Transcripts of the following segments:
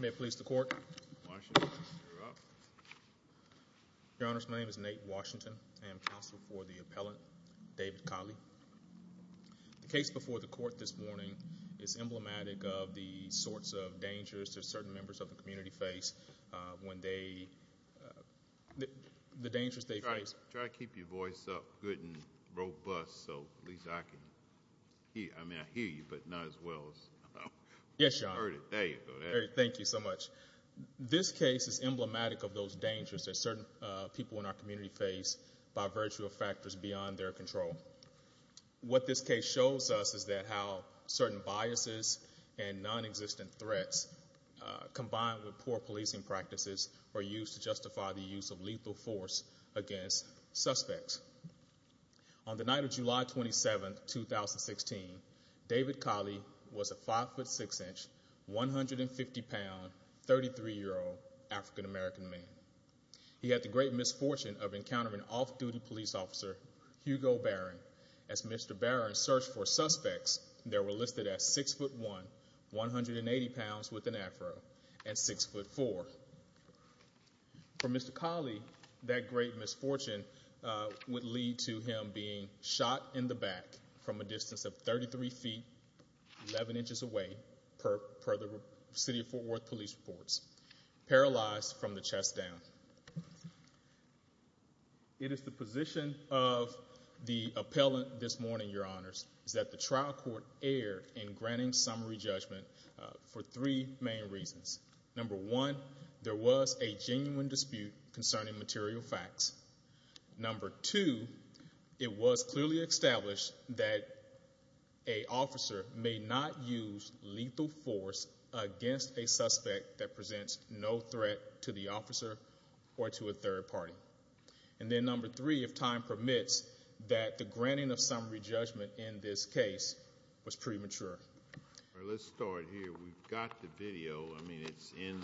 May it please the court. Your Honor, my name is Nate Washington. I am counsel for the appellant, David Collie. The case before the court this morning is emblematic of the sorts of dangers to certain members of the community face when they, the dangers they face. Try to keep your voice up good and robust so at least I can, I mean I can hear you but not as well. Yes, Your Honor. There you go. Thank you so much. This case is emblematic of those dangers that certain people in our community face by virtue of factors beyond their control. What this case shows us is that how certain biases and non-existent threats combined with poor policing practices are used to justify the use of lethal force against suspects. On the night of July 27, 2016 David Collie was a 5 foot 6 inch, 150 pound, 33 year old African-American man. He had the great misfortune of encountering off-duty police officer Hugo Barron. As Mr. Barron searched for suspects, there were listed as 6 foot 1, 180 pounds with an afro, and 6 foot 4. For Mr. Collie, that great misfortune would lead to him being shot in the back from a distance of 33 feet, 11 inches away, per the City of Fort Worth Police Reports. Paralyzed from the chest down. It is the position of the appellant this morning, Your Honors, is that the trial court erred in granting summary judgment for three main reasons. Number two, it was clearly established that a officer may not use lethal force against a suspect that presents no threat to the officer or to a third party. And then number three, if time permits, that the granting of summary judgment in this case was premature. Let's start here. We've got the video, I mean it's in the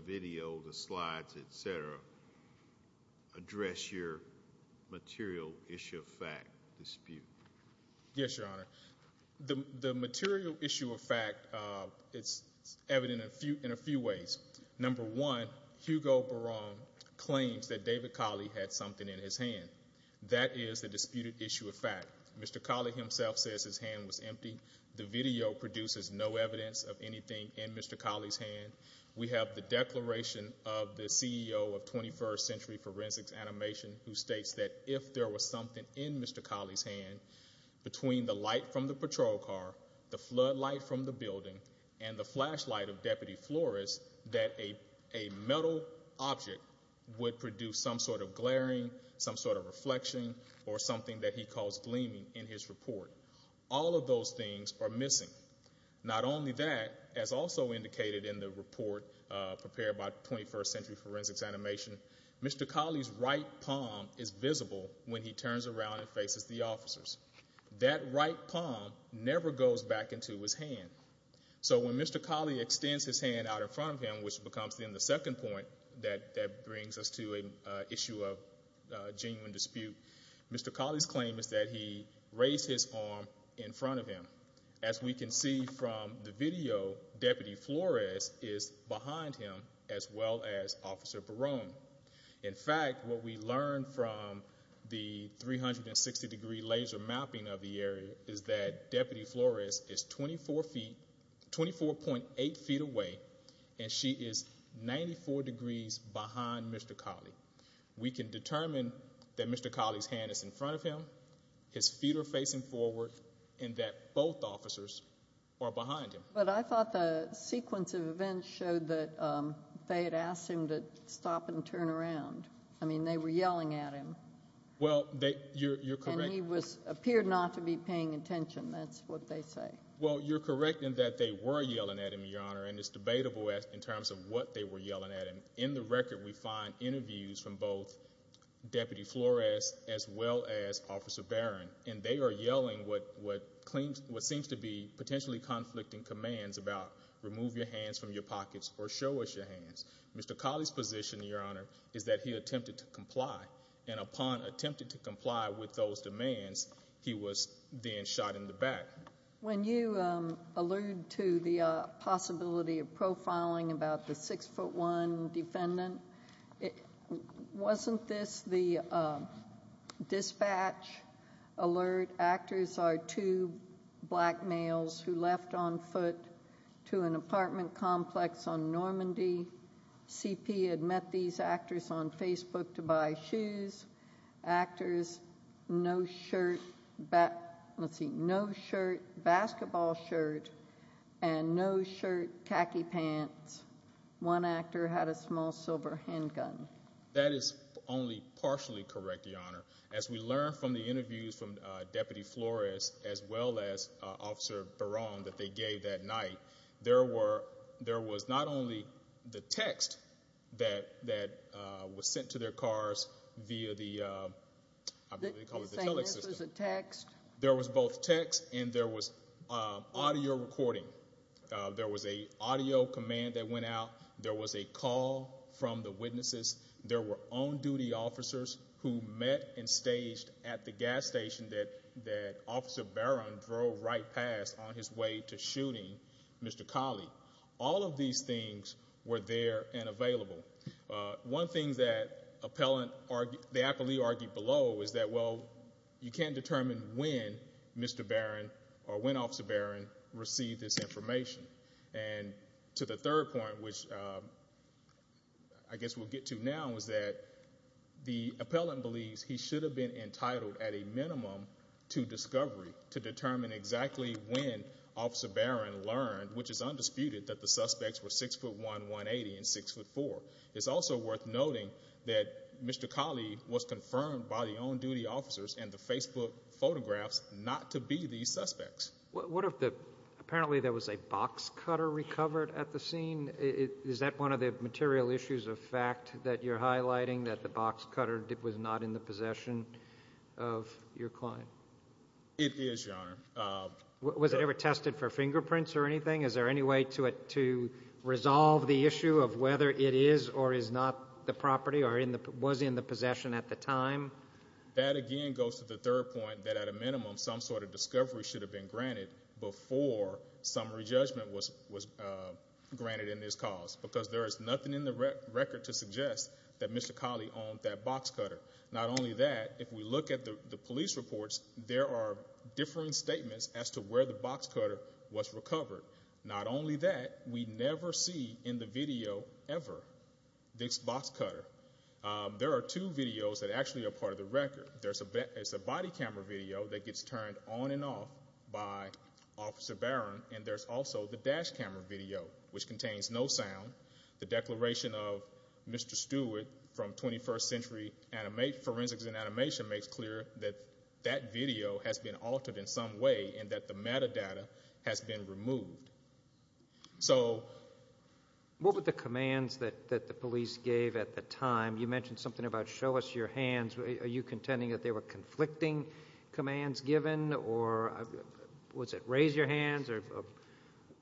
video, the slides, etc. Address your material issue of fact dispute. Yes, Your Honor. The material issue of fact, it's evident in a few ways. Number one, Hugo Barron claims that David Collie had something in his hand. That is the self says his hand was empty. The video produces no evidence of anything in Mr Collie's hand. We have the declaration of the CEO of 21st Century Forensics Animation, who states that if there was something in Mr Collie's hand between the light from the patrol car, the floodlight from the building and the flashlight of Deputy Flores, that a metal object would produce some sort of glaring, some sort of reflection or something that he calls gleaming in his report. All of those things are missing. Not only that, as also indicated in the report prepared by 21st Century Forensics Animation, Mr Collie's right palm is visible when he turns around and faces the officers. That right palm never goes back into his hand. So when Mr Collie extends his hand out in front of him, which becomes then the second point that brings us to an issue of genuine dispute, Mr Collie's claim is that he raised his arm in front of him. As we can see from the video, Deputy Flores is behind him as well as Officer Barron. In fact, what we learned from the 360 degree laser mapping of the area is that Deputy Flores is 24 feet, 24.8 feet away and she is 94 degrees behind Mr Collie. We can determine that Mr Collie's hand is in front of him, his feet are facing forward and that both officers are behind him. But I thought the sequence of events showed that they had asked him to stop and turn around. I mean, they were yelling at him. Well, you're correct. And he appeared not to be paying attention, that's what they say. Well, you're correct in that they were yelling at him, Your Honor, and it's debatable in terms of what they were from both Deputy Flores as well as Officer Barron. And they are yelling what seems to be potentially conflicting commands about remove your hands from your pockets or show us your hands. Mr Collie's position, Your Honor, is that he attempted to comply and upon attempted to comply with those demands, he was then shot in the back. When you allude to the possibility of profiling about the six foot one defendant, wasn't this the dispatch alert? Actors are two black males who left on foot to an apartment complex on Normandy. CP had met these actors on Facebook to buy shoes. Actors, no shirt, basketball shirt and no shirt, khaki pants. One actor had a small silver handgun. That is only partially correct, Your Honor. As we learned from the interviews from Deputy Flores as well as Officer Barron that they gave that night, there were there was not only the text that that was sent to their audio recording. There was a audio command that went out. There was a call from the witnesses. There were on duty officers who met and staged at the gas station that that Officer Barron drove right past on his way to shooting Mr Collie. All of these things were there and available. One thing that appellant or the appellee argued below is that, well, you can't determine when Mr Barron or when Officer Barron received this information. And to the third point, which I guess we'll get to now, is that the appellant believes he should have been entitled at a minimum to discovery to determine exactly when Officer Barron learned, which is undisputed, that the suspects were six foot 118 and six foot four. It's also worth noting that Mr Collie was confirmed by the on the suspects. What if the apparently there was a box cutter recovered at the scene? Is that one of the material issues of fact that you're highlighting that the box cutter was not in the possession of your client? It is, Your Honor. Was it ever tested for fingerprints or anything? Is there any way to it to resolve the issue of whether it is or is not the property or in the was in the possession at the time? That again goes to the third point that at a minimum, some sort of discovery should have been granted before summary judgment was was granted in this cause because there is nothing in the record to suggest that Mr Collie on that box cutter. Not only that, if we look at the police reports, there are different statements as to where the box cutter was recovered. Not only that, we never see in the video ever this box cutter. There are two videos that actually a part of the record. There's a it's a body camera video that gets turned on and off by Officer Baron, and there's also the dash camera video which contains no sound. The declaration of Mr Stewart from 21st century and a mate forensics and animation makes clear that that video has been altered in some way and that the metadata has been removed. So what would the commands that that the police gave at the time you mentioned something about? Show us your hands. Are you contending that they were conflicting commands given? Or was it raise your hands or?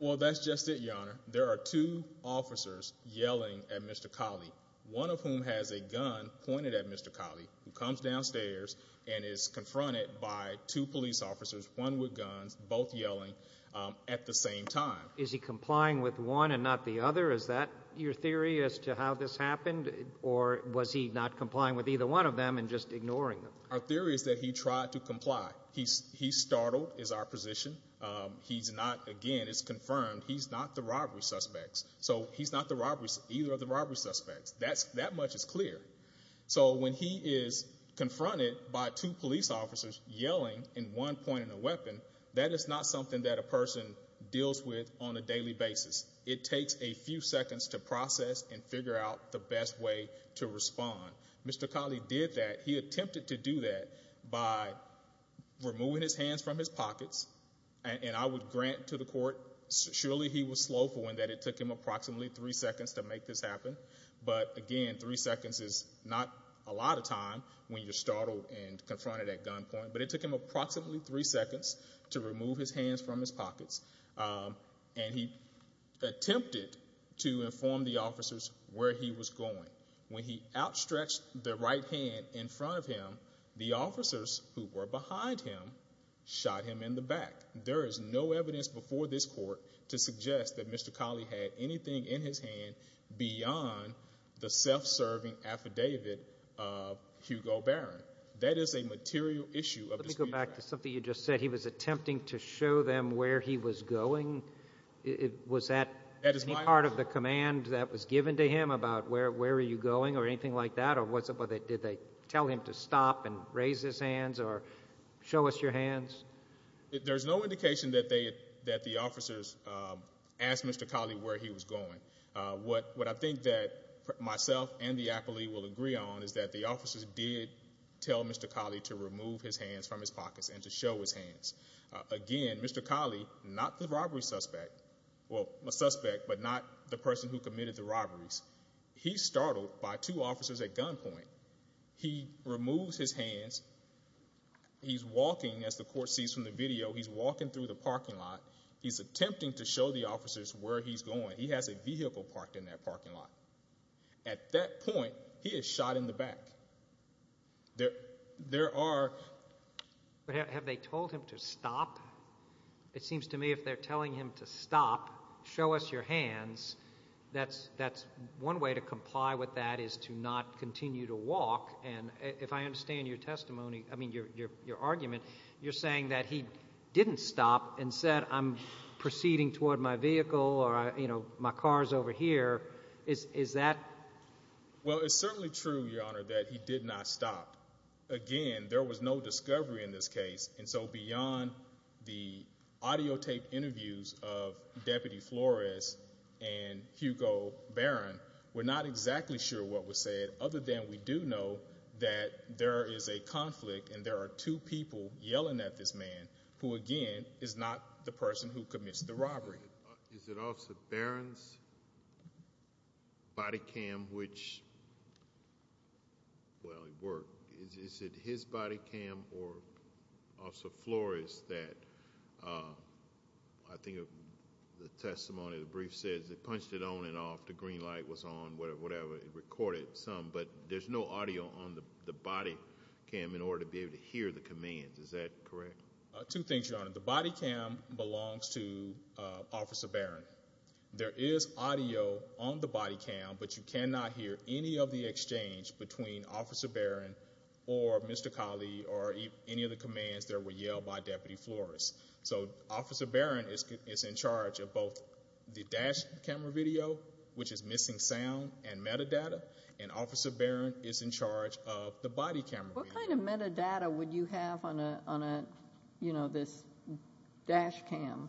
Well, that's just it. Your honor. There are two officers yelling at Mr Collie, one of whom has a gun pointed at Mr Collie who comes downstairs and is confronted by two police officers, one with guns, both yelling at the same time. Is he complying with one and not the other? Is that your theory as to how this happened? Or was he not complying with either one of them and just ignoring our theories that he tried to comply? He's startled is our position. Um, he's not again. It's confirmed. He's not the robbery suspects, so he's not the robberies. Either of the robbery suspects. That's that much is clear. So when he is confronted by two police officers yelling in one point in a weapon, that is not something that a person deals with on a daily basis. It takes a few seconds to process and figure out the best way to respond. Mr Collie did that. He attempted to do that by removing his hands from his pockets, and I would grant to the court. Surely he was slow for one that it took him approximately three seconds to make this happen. But again, three seconds is not a lot of time when you're startled and confronted at gun point. But it took him approximately three seconds to remove his hands from his pockets. Um, and he attempted to inform the officers where he was going when he outstretched the right hand in front of him. The officers who were behind him shot him in the back. There is no evidence before this court to suggest that Mr Collie had anything in his hand beyond the self serving affidavit of Hugo Barron. That is a material issue of go back to something you just said. He was attempting to show them where he was going. It was that part of the command that was given to him about where where are you going or anything like that? Or what's up with it? Did they tell him to stop and raise his hands or show us your hands? There's no indication that they that the officers asked Mr Collie where he was going. What I think that myself and the appellee will agree on is that the officers did tell Mr Collie to remove his hands from his pockets and to show his hands again. Mr Collie, not the suspect, but not the person who committed the robberies. He startled by two officers at gunpoint. He removes his hands. He's walking as the court sees from the video. He's walking through the parking lot. He's attempting to show the officers where he's going. He has a vehicle parked in that parking lot. At that point, he is shot in the back. There there are. But have they told him to stop? It seems to me if they're going to show us your hands, that's that's one way to comply with that is to not continue to walk. And if I understand your testimony, I mean, your argument, you're saying that he didn't stop and said, I'm proceeding toward my vehicle or, you know, my car's over here. Is that? Well, it's certainly true, Your Honor, that he did not stop again. There was no discovery in this case. And so beyond the audio tape interviews of Deputy Flores and Hugo Barron, we're not exactly sure what was said. Other than we do know that there is a conflict and there are two people yelling at this man who again is not the person who commits the robbery. Is it also Barron's body cam, which well, it worked. Is it his body cam or Officer Flores that, uh, I think of the testimony. The brief says they punched it on and off. The green light was on whatever it recorded some. But there's no audio on the body cam in order to be able to hear the commands. Is that correct? Two things, Your Honor. The body cam belongs to Officer Barron. There is audio on the body cam, but you cannot hear any of the exchange between Officer Barron or Mr Khali or any of the commands that were yelled by Deputy Flores. So Officer Barron is in charge of both the dash camera video, which is missing sound and metadata. And Officer Barron is in charge of the body camera. What kind of metadata would you have on a on a, you know, this dash cam?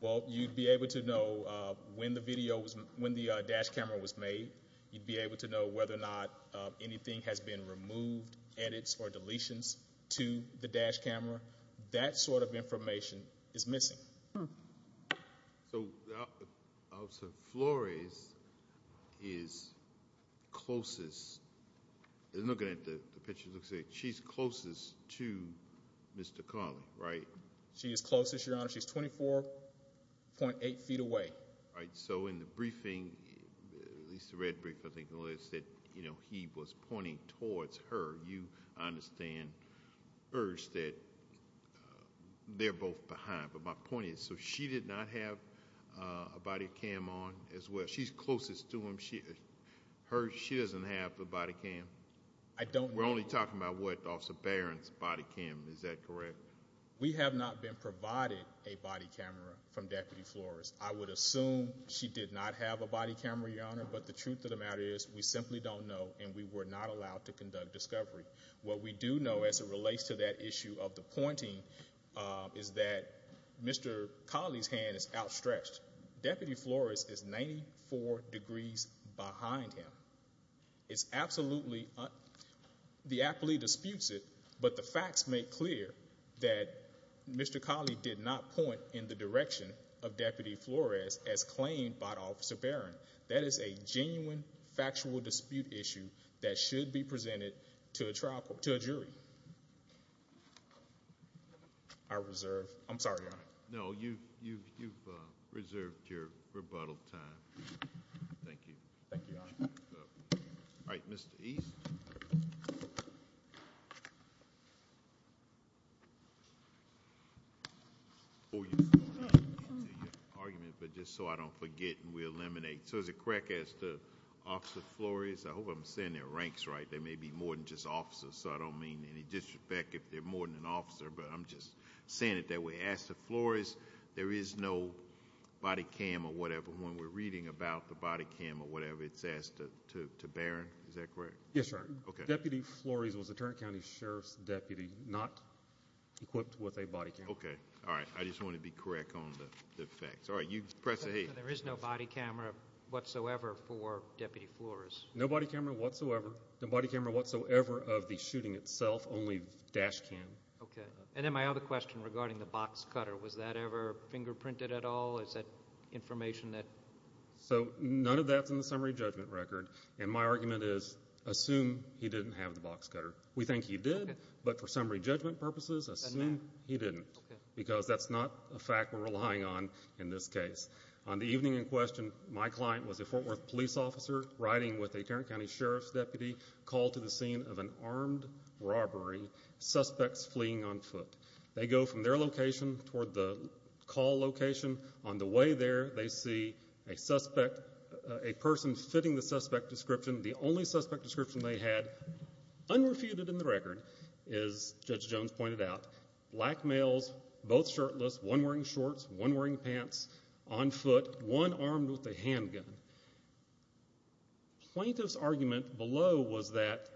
Well, you'd be able to know when the video was made. You'd be able to know whether or not anything has been removed, edits or deletions to the dash camera. That sort of information is missing. So Officer Flores is closest. They're looking at the picture. Looks like she's closest to Mr Khali, right? She is closest, Your Honor. She's 24.8 ft away, right? So in the briefing, at least the red brick, I think the list that, you know, he was pointing towards her. You understand first that they're both behind. But my point is so she did not have a body cam on as well. She's closest to him. She hurt. She doesn't have a body cam. I don't. We're only talking about what Officer Barron's body cam. Is that correct? We would assume she did not have a body camera, Your Honor. But the truth of the matter is, we simply don't know, and we were not allowed to conduct discovery. What we do know as it relates to that issue of the pointing is that Mr Khali's hand is outstretched. Deputy Flores is 94 degrees behind him. It's absolutely the athlete disputes it. But the facts make clear that Mr Khali did not point in the direction of Deputy Flores, as claimed by Officer Barron. That is a genuine, factual dispute issue that should be presented to a trial to a jury. I reserve. I'm sorry. No, you've you've reserved your rebuttal time. Thank you. All right, Mr East. Oh, argument. But just so I don't forget, we eliminate. So is it correct? As the officer Flores, I hope I'm saying their ranks right. There may be more than just officers, so I don't mean any disrespect if they're more than an officer. But I'm just saying it that way. Ask the floors. There is no body cam or whatever. When we're reading about the body cam or whatever, it's asked to to to bear. Is that correct? Yes, sir. Okay. Deputy Flores was a just want to be correct on the facts. All right, you press it. There is no body camera whatsoever for Deputy Flores. Nobody camera whatsoever. Nobody camera whatsoever of the shooting itself. Only dash cam. Okay. And then my other question regarding the box cutter. Was that ever fingerprinted at all? Is that information that so none of that's in the summary judgment record. And my argument is assume he didn't have the box cutter. We think he did. But for summary judgment purposes, assuming he didn't because that's not a fact we're relying on. In this case on the evening in question, my client was a Fort Worth police officer riding with a Tarrant County Sheriff's deputy called to the scene of an armed robbery. Suspects fleeing on foot. They go from their location toward the call location. On the way there, they see a suspect, a person fitting the suspect description. The only suspect description they had unrefuted in the record is Judge Jones pointed out. Black males, both shirtless, one wearing shorts, one wearing pants, on foot, one armed with a handgun. Plaintiff's argument below was that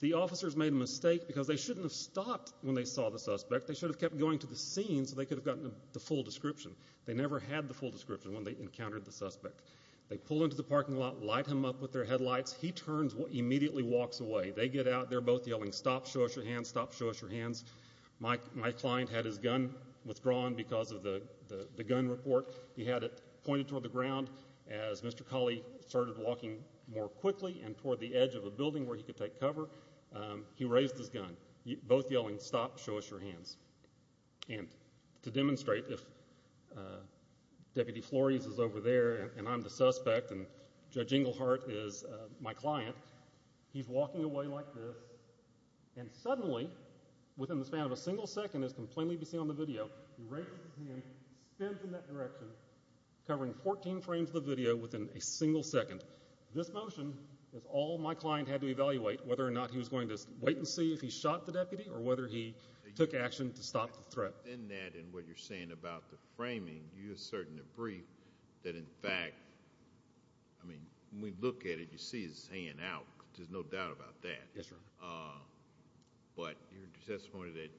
the officers made a mistake because they shouldn't have stopped when they saw the suspect. They should have kept going to the scene so they could have gotten the full description. They never had the full description when they encountered the suspect. They pull into the parking lot, light him up with their headlights. He turns, immediately walks away. They get out. They're both yelling, stop, show us your hands, stop, show us your hands. My client had his gun withdrawn because of the gun report. He had it pointed toward the ground. As Mr. Colley started walking more quickly and toward the edge of a building where he could take cover, he raised his gun, both yelling, stop, show us your hands. And to demonstrate, if Deputy Flores is over there and I'm the suspect and Judge Englehart is my client, I'm going to be like this. And suddenly, within the span of a single second, as can plainly be seen on the video, he raises his hand, spins in that direction, covering 14 frames of the video within a single second. This motion is all my client had to evaluate, whether or not he was going to wait and see if he shot the deputy or whether he took action to stop the threat. In that, in what you're saying about the framing, you're asserting a brief that in fact, I mean, when we look at it, you see his hand out. There's no doubt about that. Yes, Your Honor. But you're testifying that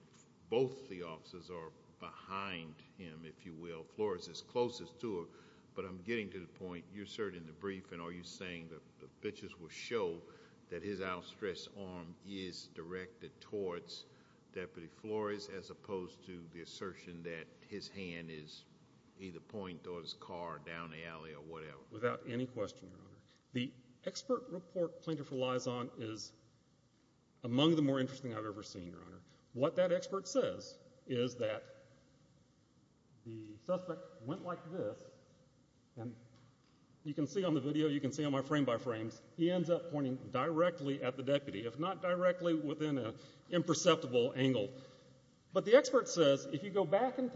both the officers are behind him, if you will, Flores is closest to him. But I'm getting to the point, you're asserting the brief and are you saying that the pictures will show that his outstretched arm is directed towards Deputy Flores as opposed to the assertion that his hand is either pointed toward his car down the alley or whatever? Without any question, Your Honor. The expert report Plaintiff relies on is among the more interesting I've ever seen, Your Honor. What that expert says is that the suspect went like this, and you can see on the video, you can see on my frame-by-frames, he ends up pointing directly at the deputy, if not directly within an imperceptible angle. But the expert says if you go back in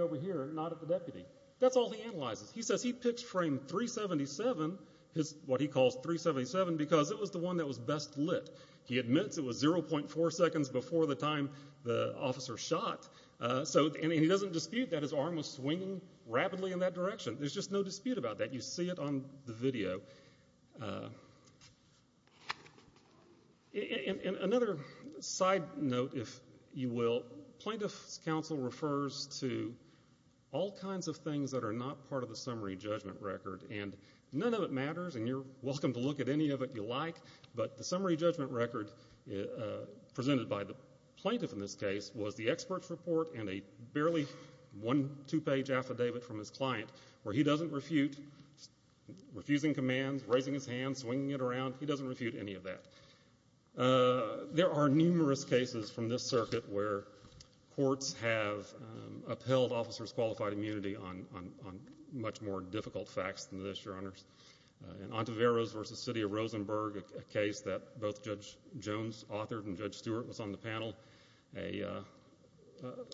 over here, not at the deputy. That's all he analyzes. He says he picks frame 377, what he calls 377, because it was the one that was best lit. He admits it was 0.4 seconds before the time the officer shot, and he doesn't dispute that his arm was swinging rapidly in that direction. There's just no dispute about that. You see it on the video. Another side note, if you will, Plaintiff's counsel refers to all kinds of things that are not part of the summary judgment record, and none of it matters, and you're welcome to look at any of it you like, but the summary judgment record presented by the plaintiff in this case was the expert's report and a barely one-two-page affidavit from his client where he doesn't refute, refusing commands, raising his hand, swinging it around. He doesn't refute any of that. There are numerous cases from this circuit where courts have upheld officers' qualified immunity on much more difficult facts than this, Your Honors. In Ontiveros v. City of Rosenberg, a case that both Judge Jones authored and Judge Stewart was on the panel, a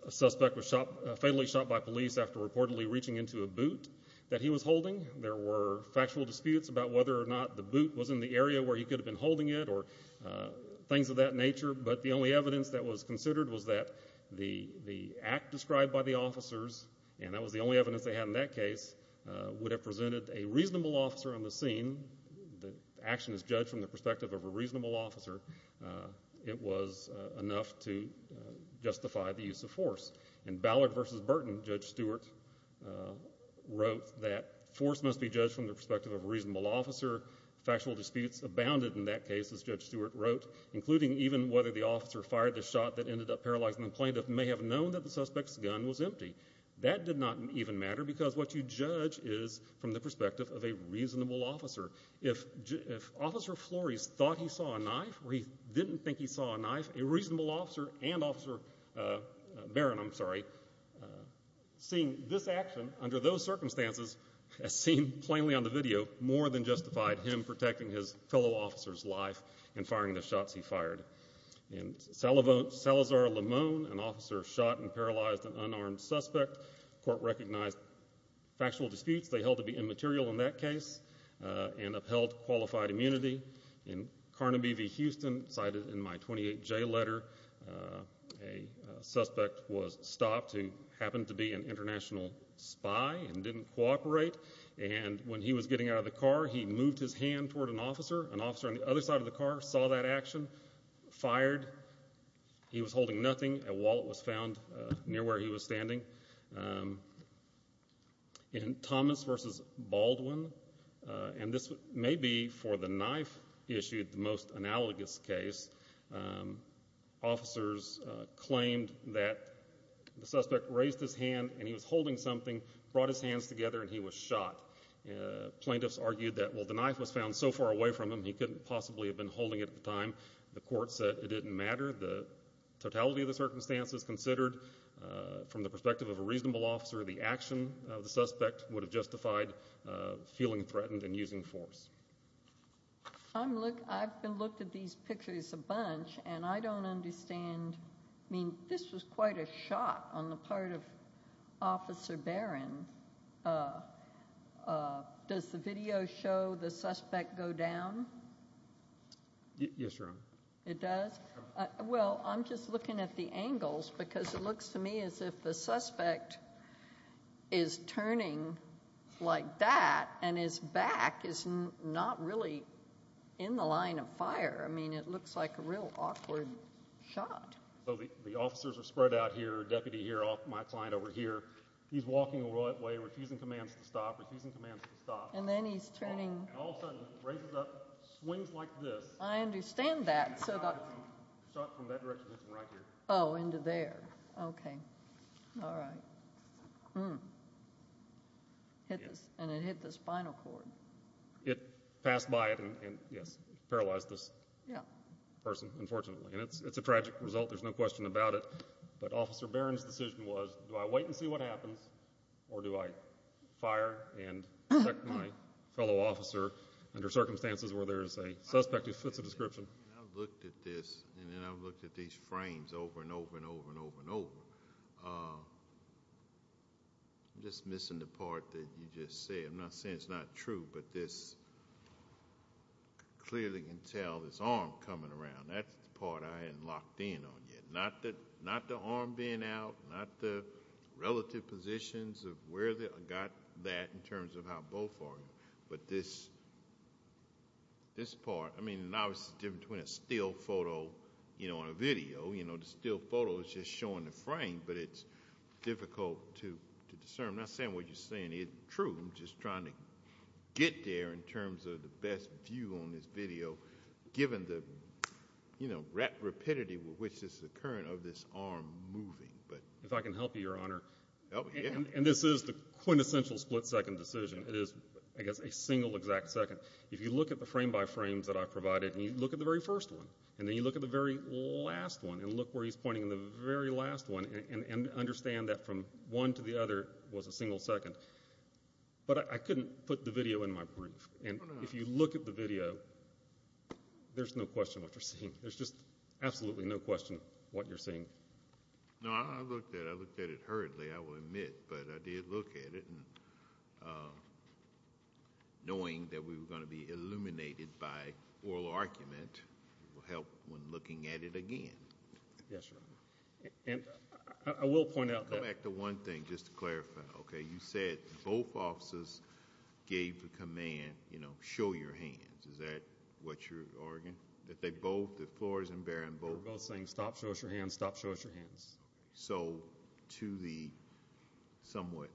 suspect was fatally shot by police after reportedly reaching into a boot that he was holding. There were factual disputes about whether or not the boot was in the area where he could have been holding it or things of that nature, but the only evidence that was considered was that the act described by the officers, and that was the only evidence they had in that case, would have presented a reasonable officer on the scene. The action is judged from the perspective of a reasonable officer. It was enough to justify the use of force. In Ballard v. Burton, Judge Stewart wrote that force must be judged from the perspective of a reasonable officer. Factual disputes abounded in that case, as Judge Stewart wrote, including even whether the officer fired the shot that ended up paralyzing the plaintiff may have known that the suspect's gun was empty. That did not even matter because what you judge is from the perspective of a reasonable officer. If Officer Flores thought he saw a knife or he didn't think he saw a knife, a reasonable officer and Officer Barron, I'm sorry, seeing this action under those circumstances, as seen plainly on the video, more than justified him protecting his fellow officer's life and firing the shots he fired. In Salazar-Limon, an officer shot and paralyzed an unarmed suspect. Court recognized factual disputes they held to be immaterial in that case and upheld qualified immunity. In Carnaby v. Houston, cited in my 28J letter, a suspect was stopped who didn't cooperate and when he was getting out of the car, he moved his hand toward an officer. An officer on the other side of the car saw that action, fired. He was holding nothing. A wallet was found near where he was standing. In Thomas v. Baldwin, and this may be for the knife issued, the most analogous case, officers claimed that the suspect raised his hand and he was holding something, brought his hands together and he was shot. Plaintiffs argued that while the knife was found so far away from him, he couldn't possibly have been holding it at the time. The court said it didn't matter. The totality of the circumstances considered from the perspective of a reasonable officer, the action of the suspect would have justified feeling threatened and using force. I've been looked at these pictures a bunch and I don't understand, I mean, this was quite a shot on the part of Officer Barron. Does the video show the suspect go down? Yes, Your Honor. It does? Well, I'm just looking at the angles because it looks to me as if the suspect is turning like that and his back is not really in the line of fire. I mean, it looks to me as if he's not in the line of fire. I mean, his arms are spread out here, deputy here, my client over here. He's walking away, refusing commands to stop, refusing commands to stop. And then he's turning. All of a sudden, raises up, swings like this. I understand that. Shot from that direction, hits him right here. Oh, into there. Okay. All right. And it hit the spinal cord. It passed by it and, yes, paralyzed this person, unfortunately. And it's a tragic result. There's no question about it. But Officer Barron's decision was, do I wait and see what happens? Or do I fire and protect my fellow officer under circumstances where there's a suspect who fits the description? I've looked at this and then I've looked at these frames over and over and over and over and over. I'm just missing the part that you just said. I'm not saying it's not true, but this clearly can tell this arm coming around. That's the part I haven't locked in on yet. Not the arm being out, not the relative positions of where I got that in terms of how both are. But this part, I mean, obviously it's different between a still photo and a video. The still photo is just showing the frame, but it's difficult to discern. I'm not saying what you're saying isn't true. I'm just trying to get there in terms of the best view on this video, given the rapidity with which this is occurring of this arm moving. If I can help you, Your Honor, and this is the quintessential split-second decision. It is, I guess, a single exact second. If you look at the frame-by-frames that I've provided and you look at the very first one and then you look at the very last one and look where he's pointing in the very last one and understand that from one to the other was a single second. But I couldn't put the video in my brief, and if you look at the video, there's no question what you're seeing. There's just absolutely no question what you're seeing. No, I looked at it. I looked at it hurriedly, I will admit, but I did look at it. And knowing that we were going to be illuminated by oral argument will help when looking at it again. Yes, Your Honor. I will point out that- Come back to one thing, just to clarify. Okay, you said both officers gave the command, you know, show your hands. Is that what you're arguing? That they both, that Flores and Barron both- They were both saying, stop, show us your hands, stop, show us your hands. So to the somewhat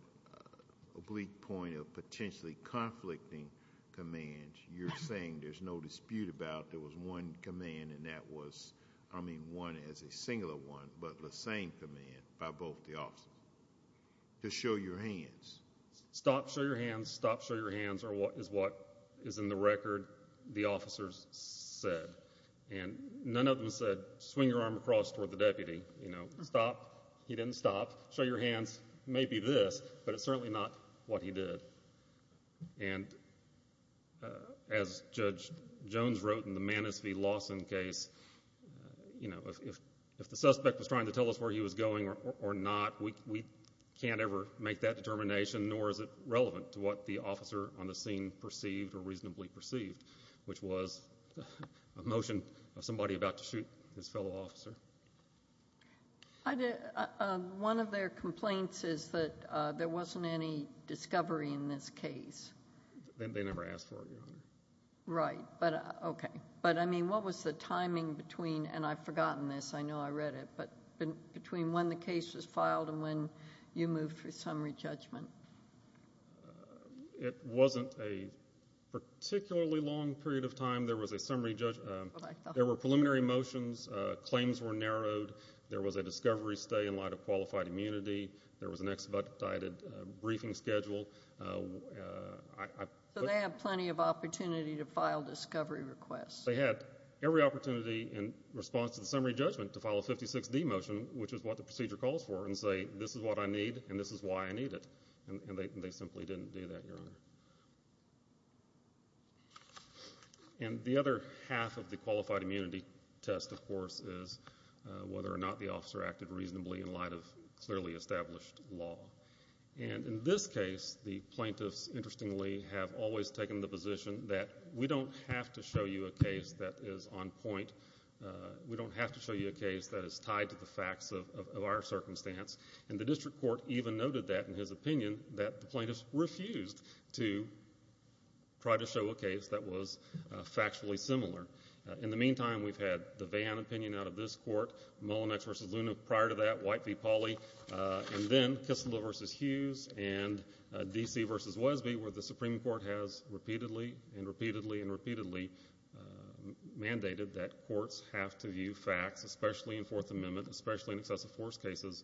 oblique point of potentially conflicting commands, you're saying there's no dispute about there was one command and that was, I mean, one as a singular one, but the same command by both the officers, to show your hands. Stop, show your hands, stop, show your hands is what is in the record the officers said. And none of them said swing your arm across toward the deputy, you know, stop. He didn't stop. Show your hands may be this, but it's certainly not what he did. And as Judge Jones wrote in the Manis v. Lawson case, you know, if the suspect was trying to tell us where he was going or not, we can't ever make that determination, nor is it relevant to what the officer on the scene perceived or reasonably perceived, which was a motion of somebody about to shoot his fellow officer. One of their complaints is that there wasn't any discovery in this case. They never asked for it, Your Honor. Right. Okay. But, I mean, what was the timing between, and I've forgotten this, I know I read it, but between when the case was filed and when you moved for summary judgment? It wasn't a particularly long period of time. There was a summary judgment. There were preliminary motions. Claims were narrowed. There was a discovery stay in light of qualified immunity. There was an expedited briefing schedule. So they had plenty of opportunity to file discovery requests. They had every opportunity in response to the summary judgment to file a 56D motion, which is what the procedure calls for, and say, this is what I need and this is why I need it. And they simply didn't do that, Your Honor. And the other half of the qualified immunity test, of course, is whether or not the officer acted reasonably in light of clearly established law. And in this case, the plaintiffs, interestingly, have always taken the position that we don't have to show you a case that is on point. We don't have to show you a case that is tied to the facts of our circumstance. And the district court even noted that in his opinion, that the plaintiffs refused to try to show a case that was factually similar. In the meantime, we've had the Vahan opinion out of this court, Mullinex v. Luna prior to that, White v. Pauley, and then Kistler v. Hughes and D.C. v. Wesby, where the Supreme Court has repeatedly and repeatedly and repeatedly mandated that courts have to view facts, especially in Fourth Amendment, especially in excessive force cases,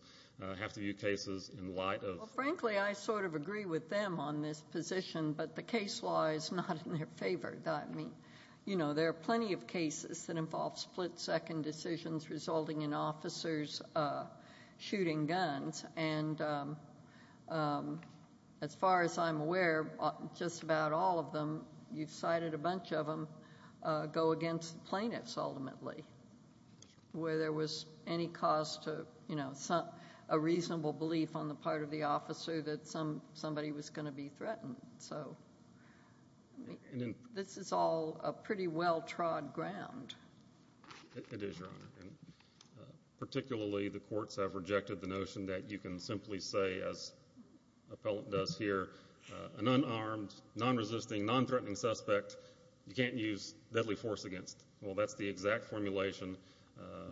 have to view cases in light of- Well, frankly, I sort of agree with them on this position, but the case law is not in their favor. I mean, you know, there are plenty of cases that involve split-second decisions resulting in officers shooting guns. And as far as I'm aware, just about all of them, you've cited a bunch of them, go against the plaintiffs ultimately, where there was any cause to, you know, a reasonable belief on the part of the officer that somebody was going to be threatened. So this is all a pretty well-trod ground. It is, Your Honor. Particularly, the courts have rejected the notion that you can simply say, as Appellant does here, an unarmed, non-resisting, non-threatening suspect you can't use deadly force against. Well, that's the exact formulation,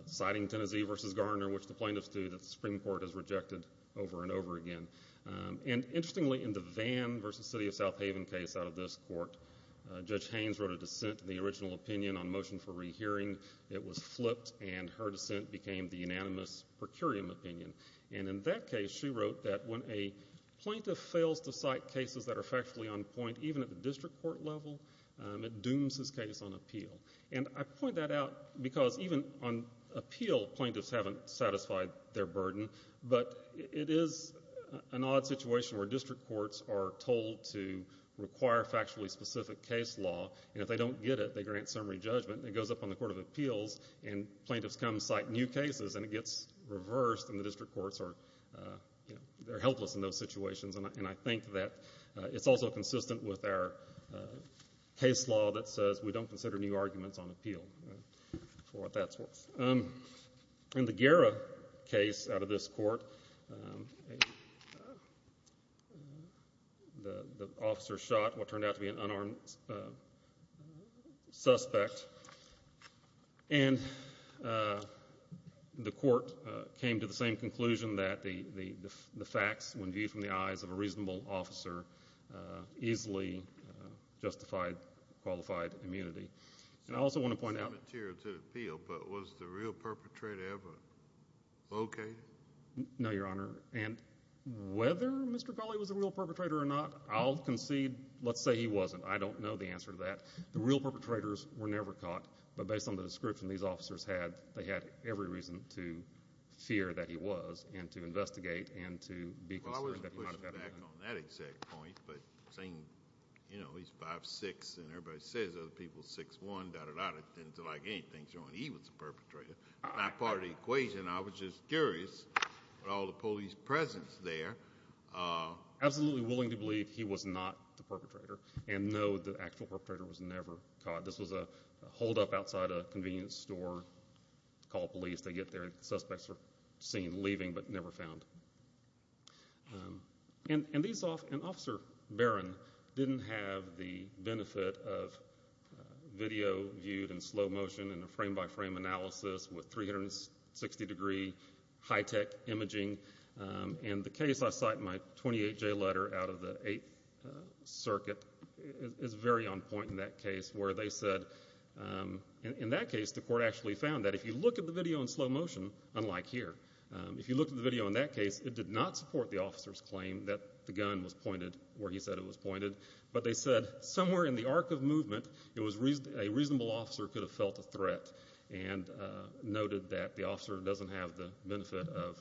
citing Tennessee v. Garner, which the plaintiffs do, that the Supreme Court has rejected over and over again. And interestingly, in the Vahan v. City of South Haven case out of this court, Judge Haynes wrote a dissent to the original opinion on motion for rehearing. It was flipped, and her dissent became the unanimous per curiam opinion. And in that case, she wrote that when a plaintiff fails to cite cases that are factually on point, even at the district court level, it dooms his case on appeal. And I point that out because even on appeal, plaintiffs haven't satisfied their burden, but it is an odd situation where district courts are told to require factually specific case law, and if they don't get it, they grant summary judgment, and it goes up on the Court of Appeals, and plaintiffs come cite new cases, and it gets reversed, and the district courts are helpless in those situations. And I think that it's also consistent with our case law that says we don't consider new arguments on appeal for what that's worth. In the Guerra case out of this court, the officer shot what turned out to be an unarmed suspect, and the court came to the same conclusion that the facts, when viewed from the eyes of a reasonable officer, easily justified qualified immunity. And I also want to point out— It's not material to appeal, but was the real perpetrator ever located? No, Your Honor. And whether Mr. Gawley was a real perpetrator or not, I'll concede let's say he wasn't. I don't know the answer to that. The real perpetrators were never caught, but based on the description these officers had, they had every reason to fear that he was and to investigate and to be concerned that he might have been. Well, I wasn't pushing back on that exact point, but saying, you know, he's 5'6", and everybody says other people are 6'1", da-da-da, didn't like anything showing he was the perpetrator, is not part of the equation. I was just curious about all the police presence there. Absolutely willing to believe he was not the perpetrator and know the actual perpetrator was never caught. This was a holdup outside a convenience store, called police, they get there, and the suspects are seen leaving but never found. And Officer Barron didn't have the benefit of video viewed in slow motion and a frame-by-frame analysis with 360-degree high-tech imaging, and the case I cite in my 28-J letter out of the Eighth Circuit is very on point in that case, where they said in that case the court actually found that if you look at the video in slow motion, unlike here, if you look at the video in that case, it did not support the officer's claim that the gun was pointed where he said it was pointed, but they said somewhere in the arc of movement a reasonable officer could have felt a threat and noted that the officer doesn't have the benefit of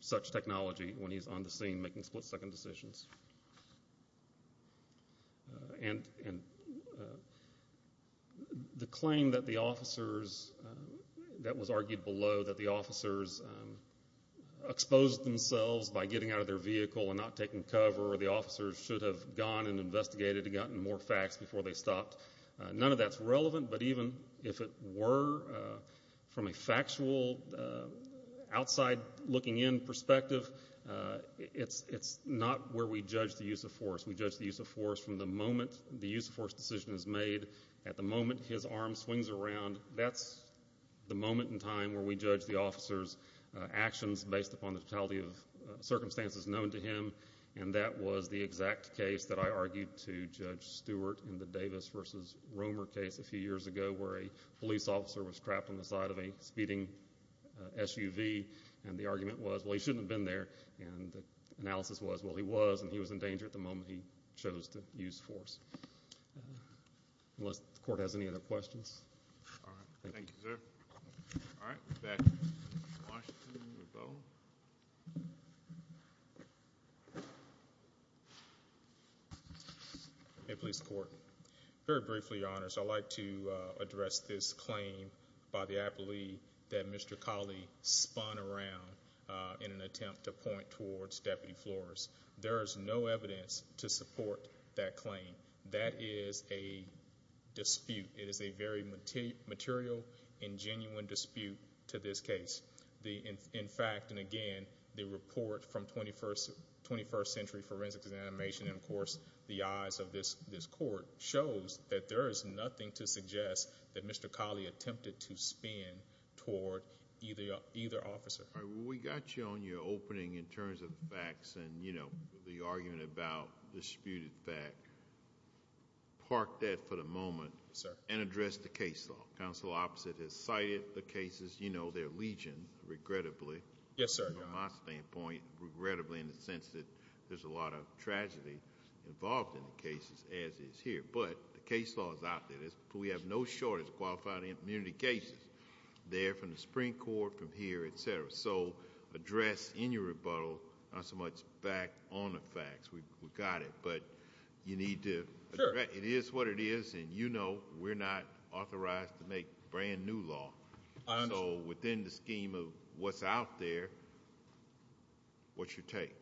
such technology when he's on the scene making split-second decisions. And the claim that the officers, that was argued below, that the officers exposed themselves by getting out of their vehicle and not taking cover, or the officers should have gone and investigated and gotten more facts before they stopped, none of that's relevant, but even if it were, from a factual, outside-looking-in perspective, it's not where we judge the use of force. We judge the use of force from the moment the use of force decision is made. At the moment his arm swings around, that's the moment in time where we judge the officer's actions based upon the totality of circumstances known to him, and that was the exact case that I argued to Judge Stewart in the Davis v. Romer case a few years ago where a police officer was trapped on the side of a speeding SUV, and the argument was, well, he shouldn't have been there, and the analysis was, well, he was, and he was in danger at the moment he chose to use force. Unless the Court has any other questions. All right, thank you, sir. All right, back to Washington with Bo. Hey, Police Court. Very briefly, Your Honor, so I'd like to address this claim by the appellee that Mr. Colley spun around in an attempt to point towards Deputy Flores. There is no evidence to support that claim. That is a dispute. It is a very material and genuine dispute to this case. In fact, and again, the report from 21st Century Forensics and Animation, and of course the eyes of this Court, shows that there is nothing to suggest that Mr. Colley attempted to spin toward either officer. All right, well, we got you on your opening in terms of facts and, you know, the argument about disputed fact. Park that for the moment and address the case law. Counsel opposite has cited the cases. You know their legion, regrettably. Yes, sir. From my standpoint, regrettably in the sense that there's a lot of tragedy involved in the cases, as is here, but the case law is out there. We have no shortage of qualified immunity cases. They're from the Supreme Court, from here, et cetera. So address in your rebuttal not so much back on the facts. We've got it, but you need to address it. It is what it is, and you know we're not authorized to make brand new law. So within the scheme of what's out there, what's your take?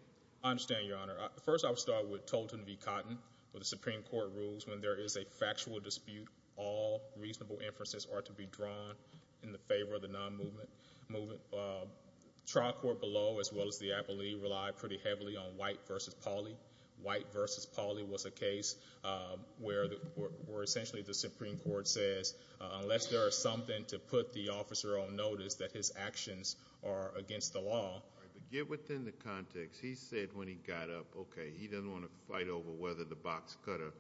I understand, Your Honor. First I'll start with Tolton v. Cotton with the Supreme Court rules. When there is a factual dispute, all reasonable inferences are to be drawn in the favor of the non-movement. Trial court below, as well as the appellee, relied pretty heavily on White v. Polley. White v. Polley was a case where essentially the Supreme Court says, unless there is something to put the officer on notice that his actions are against the law. All right, but get within the context. He said when he got up, okay, he didn't want to fight over whether the box cutter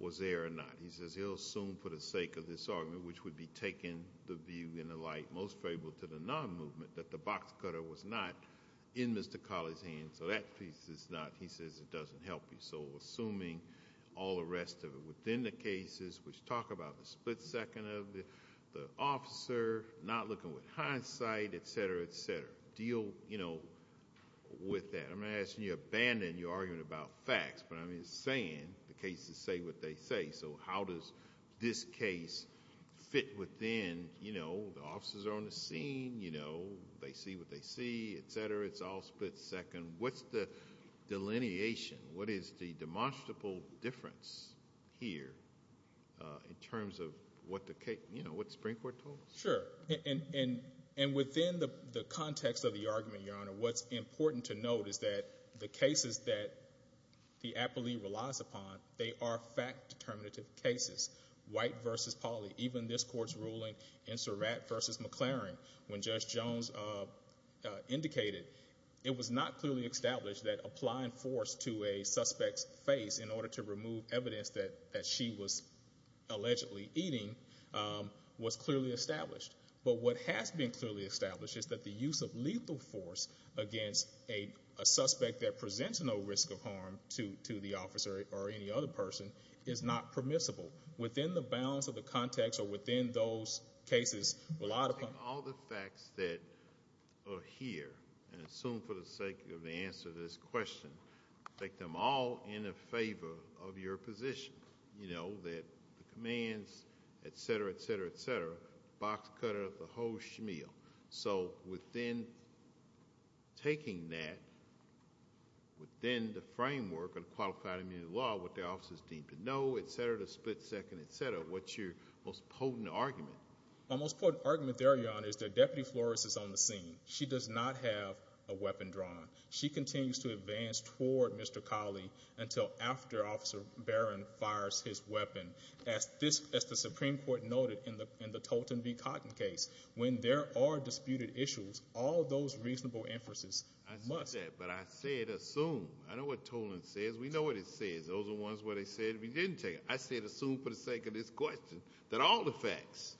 was there or not. He says he'll assume for the sake of this argument, which would be taking the view in the light, most favorable to the non-movement, that the box cutter was not in Mr. Polley's hands. So that piece is not, he says, it doesn't help you. So assuming all the rest of it within the cases, which talk about the split second of the officer, not looking with hindsight, etc., etc., deal with that. I'm not asking you to abandon your argument about facts, but I'm saying the cases say what they say. So how does this case fit within the officers are on the scene, they see what they see, etc., it's all split second. What's the delineation? What is the demonstrable difference here in terms of what the Supreme Court told us? Sure, and within the context of the argument, Your Honor, what's important to note is that the cases that the appellee relies upon, they are fact-determinative cases. White v. Polley, even this court's ruling in Surratt v. McLaren, when Judge Jones indicated, it was not clearly established that applying force to a suspect's face in order to remove evidence that she was allegedly eating was clearly established. But what has been clearly established is that the use of lethal force against a suspect that presents no risk of harm to the officer or any other person is not permissible. Within the balance of the context or within those cases, a lot of times- I think all the facts that are here, and I assume for the sake of the answer to this question, I think they're all in favor of your position, that the commands, etc., etc., etc., boxcutter of the whole shmeal. So within taking that, within the framework of qualified immunity law, what the officers need to know, etc., the split second, etc., what's your most potent argument? My most potent argument there, Your Honor, is that Deputy Flores is on the scene. She does not have a weapon drawn. She continues to advance toward Mr. Colley until after Officer Barron fires his weapon. As the Supreme Court noted in the Tolton v. Cotton case, when there are disputed issues, all those reasonable emphases must- I said that, but I said assume. I know what Toland says. We know what it says. Those are the ones where they said we didn't take it. I said assume for the sake of this question that all the facts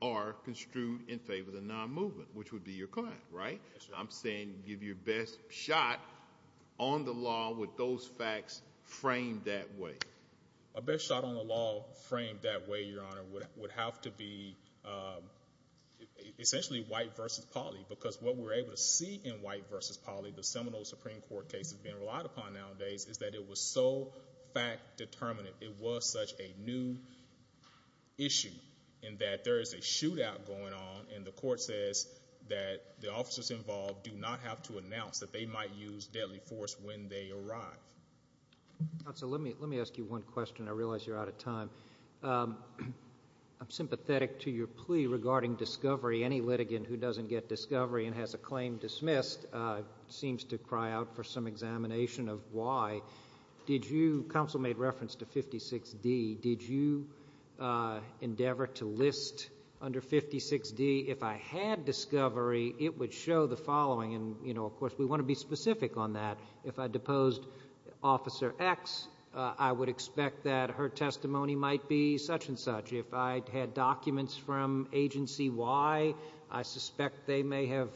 are construed in favor of the non-movement, which would be your client, right? I'm saying give your best shot on the law with those facts framed that way. A best shot on the law framed that way, Your Honor, would have to be essentially white v. Polley because what we're able to see in white v. Polley, the seminal Supreme Court case that's being relied upon nowadays, is that it was so fact-determinant. It was such a new issue in that there is a shootout going on, and the court says that the officers involved do not have to announce that they might use deadly force when they arrive. Let me ask you one question. I realize you're out of time. I'm sympathetic to your plea regarding discovery. Any litigant who doesn't get discovery and has a claim dismissed seems to cry out for some examination of why. Counsel made reference to 56D. Did you endeavor to list under 56D, if I had discovery, it would show the following? Of course, we want to be specific on that. If I deposed Officer X, I would expect that her testimony might be such and such. If I had documents from Agency Y, I suspect they may have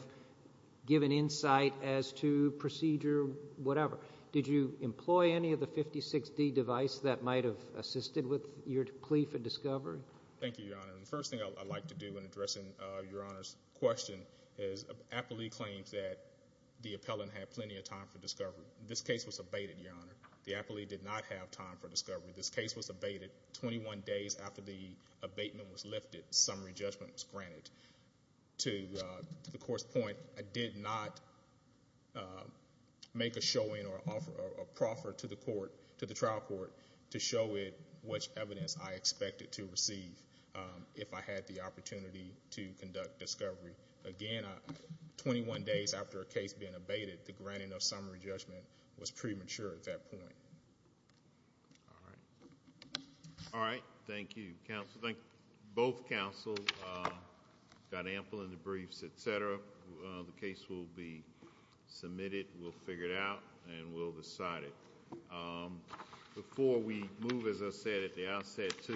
given insight as to procedure, whatever. Did you employ any of the 56D device that might have assisted with your plea for discovery? Thank you, Your Honor. The first thing I'd like to do in addressing Your Honor's question is Appellee claims that the appellant had plenty of time for discovery. This case was abated, Your Honor. The appellee did not have time for discovery. This case was abated. Twenty-one days after the abatement was lifted, summary judgment was granted. To the court's point, I did not make a showing or a proffer to the trial court to show it which evidence I expected to receive, if I had the opportunity to conduct discovery. Again, twenty-one days after a case being abated, the granting of summary judgment was premature at that point. All right. All right. Thank you, counsel. Both counsels got ample in the briefs, et cetera. The case will be submitted. We'll figure it out, and we'll decide it. Before we move, as I said, at the outset, to…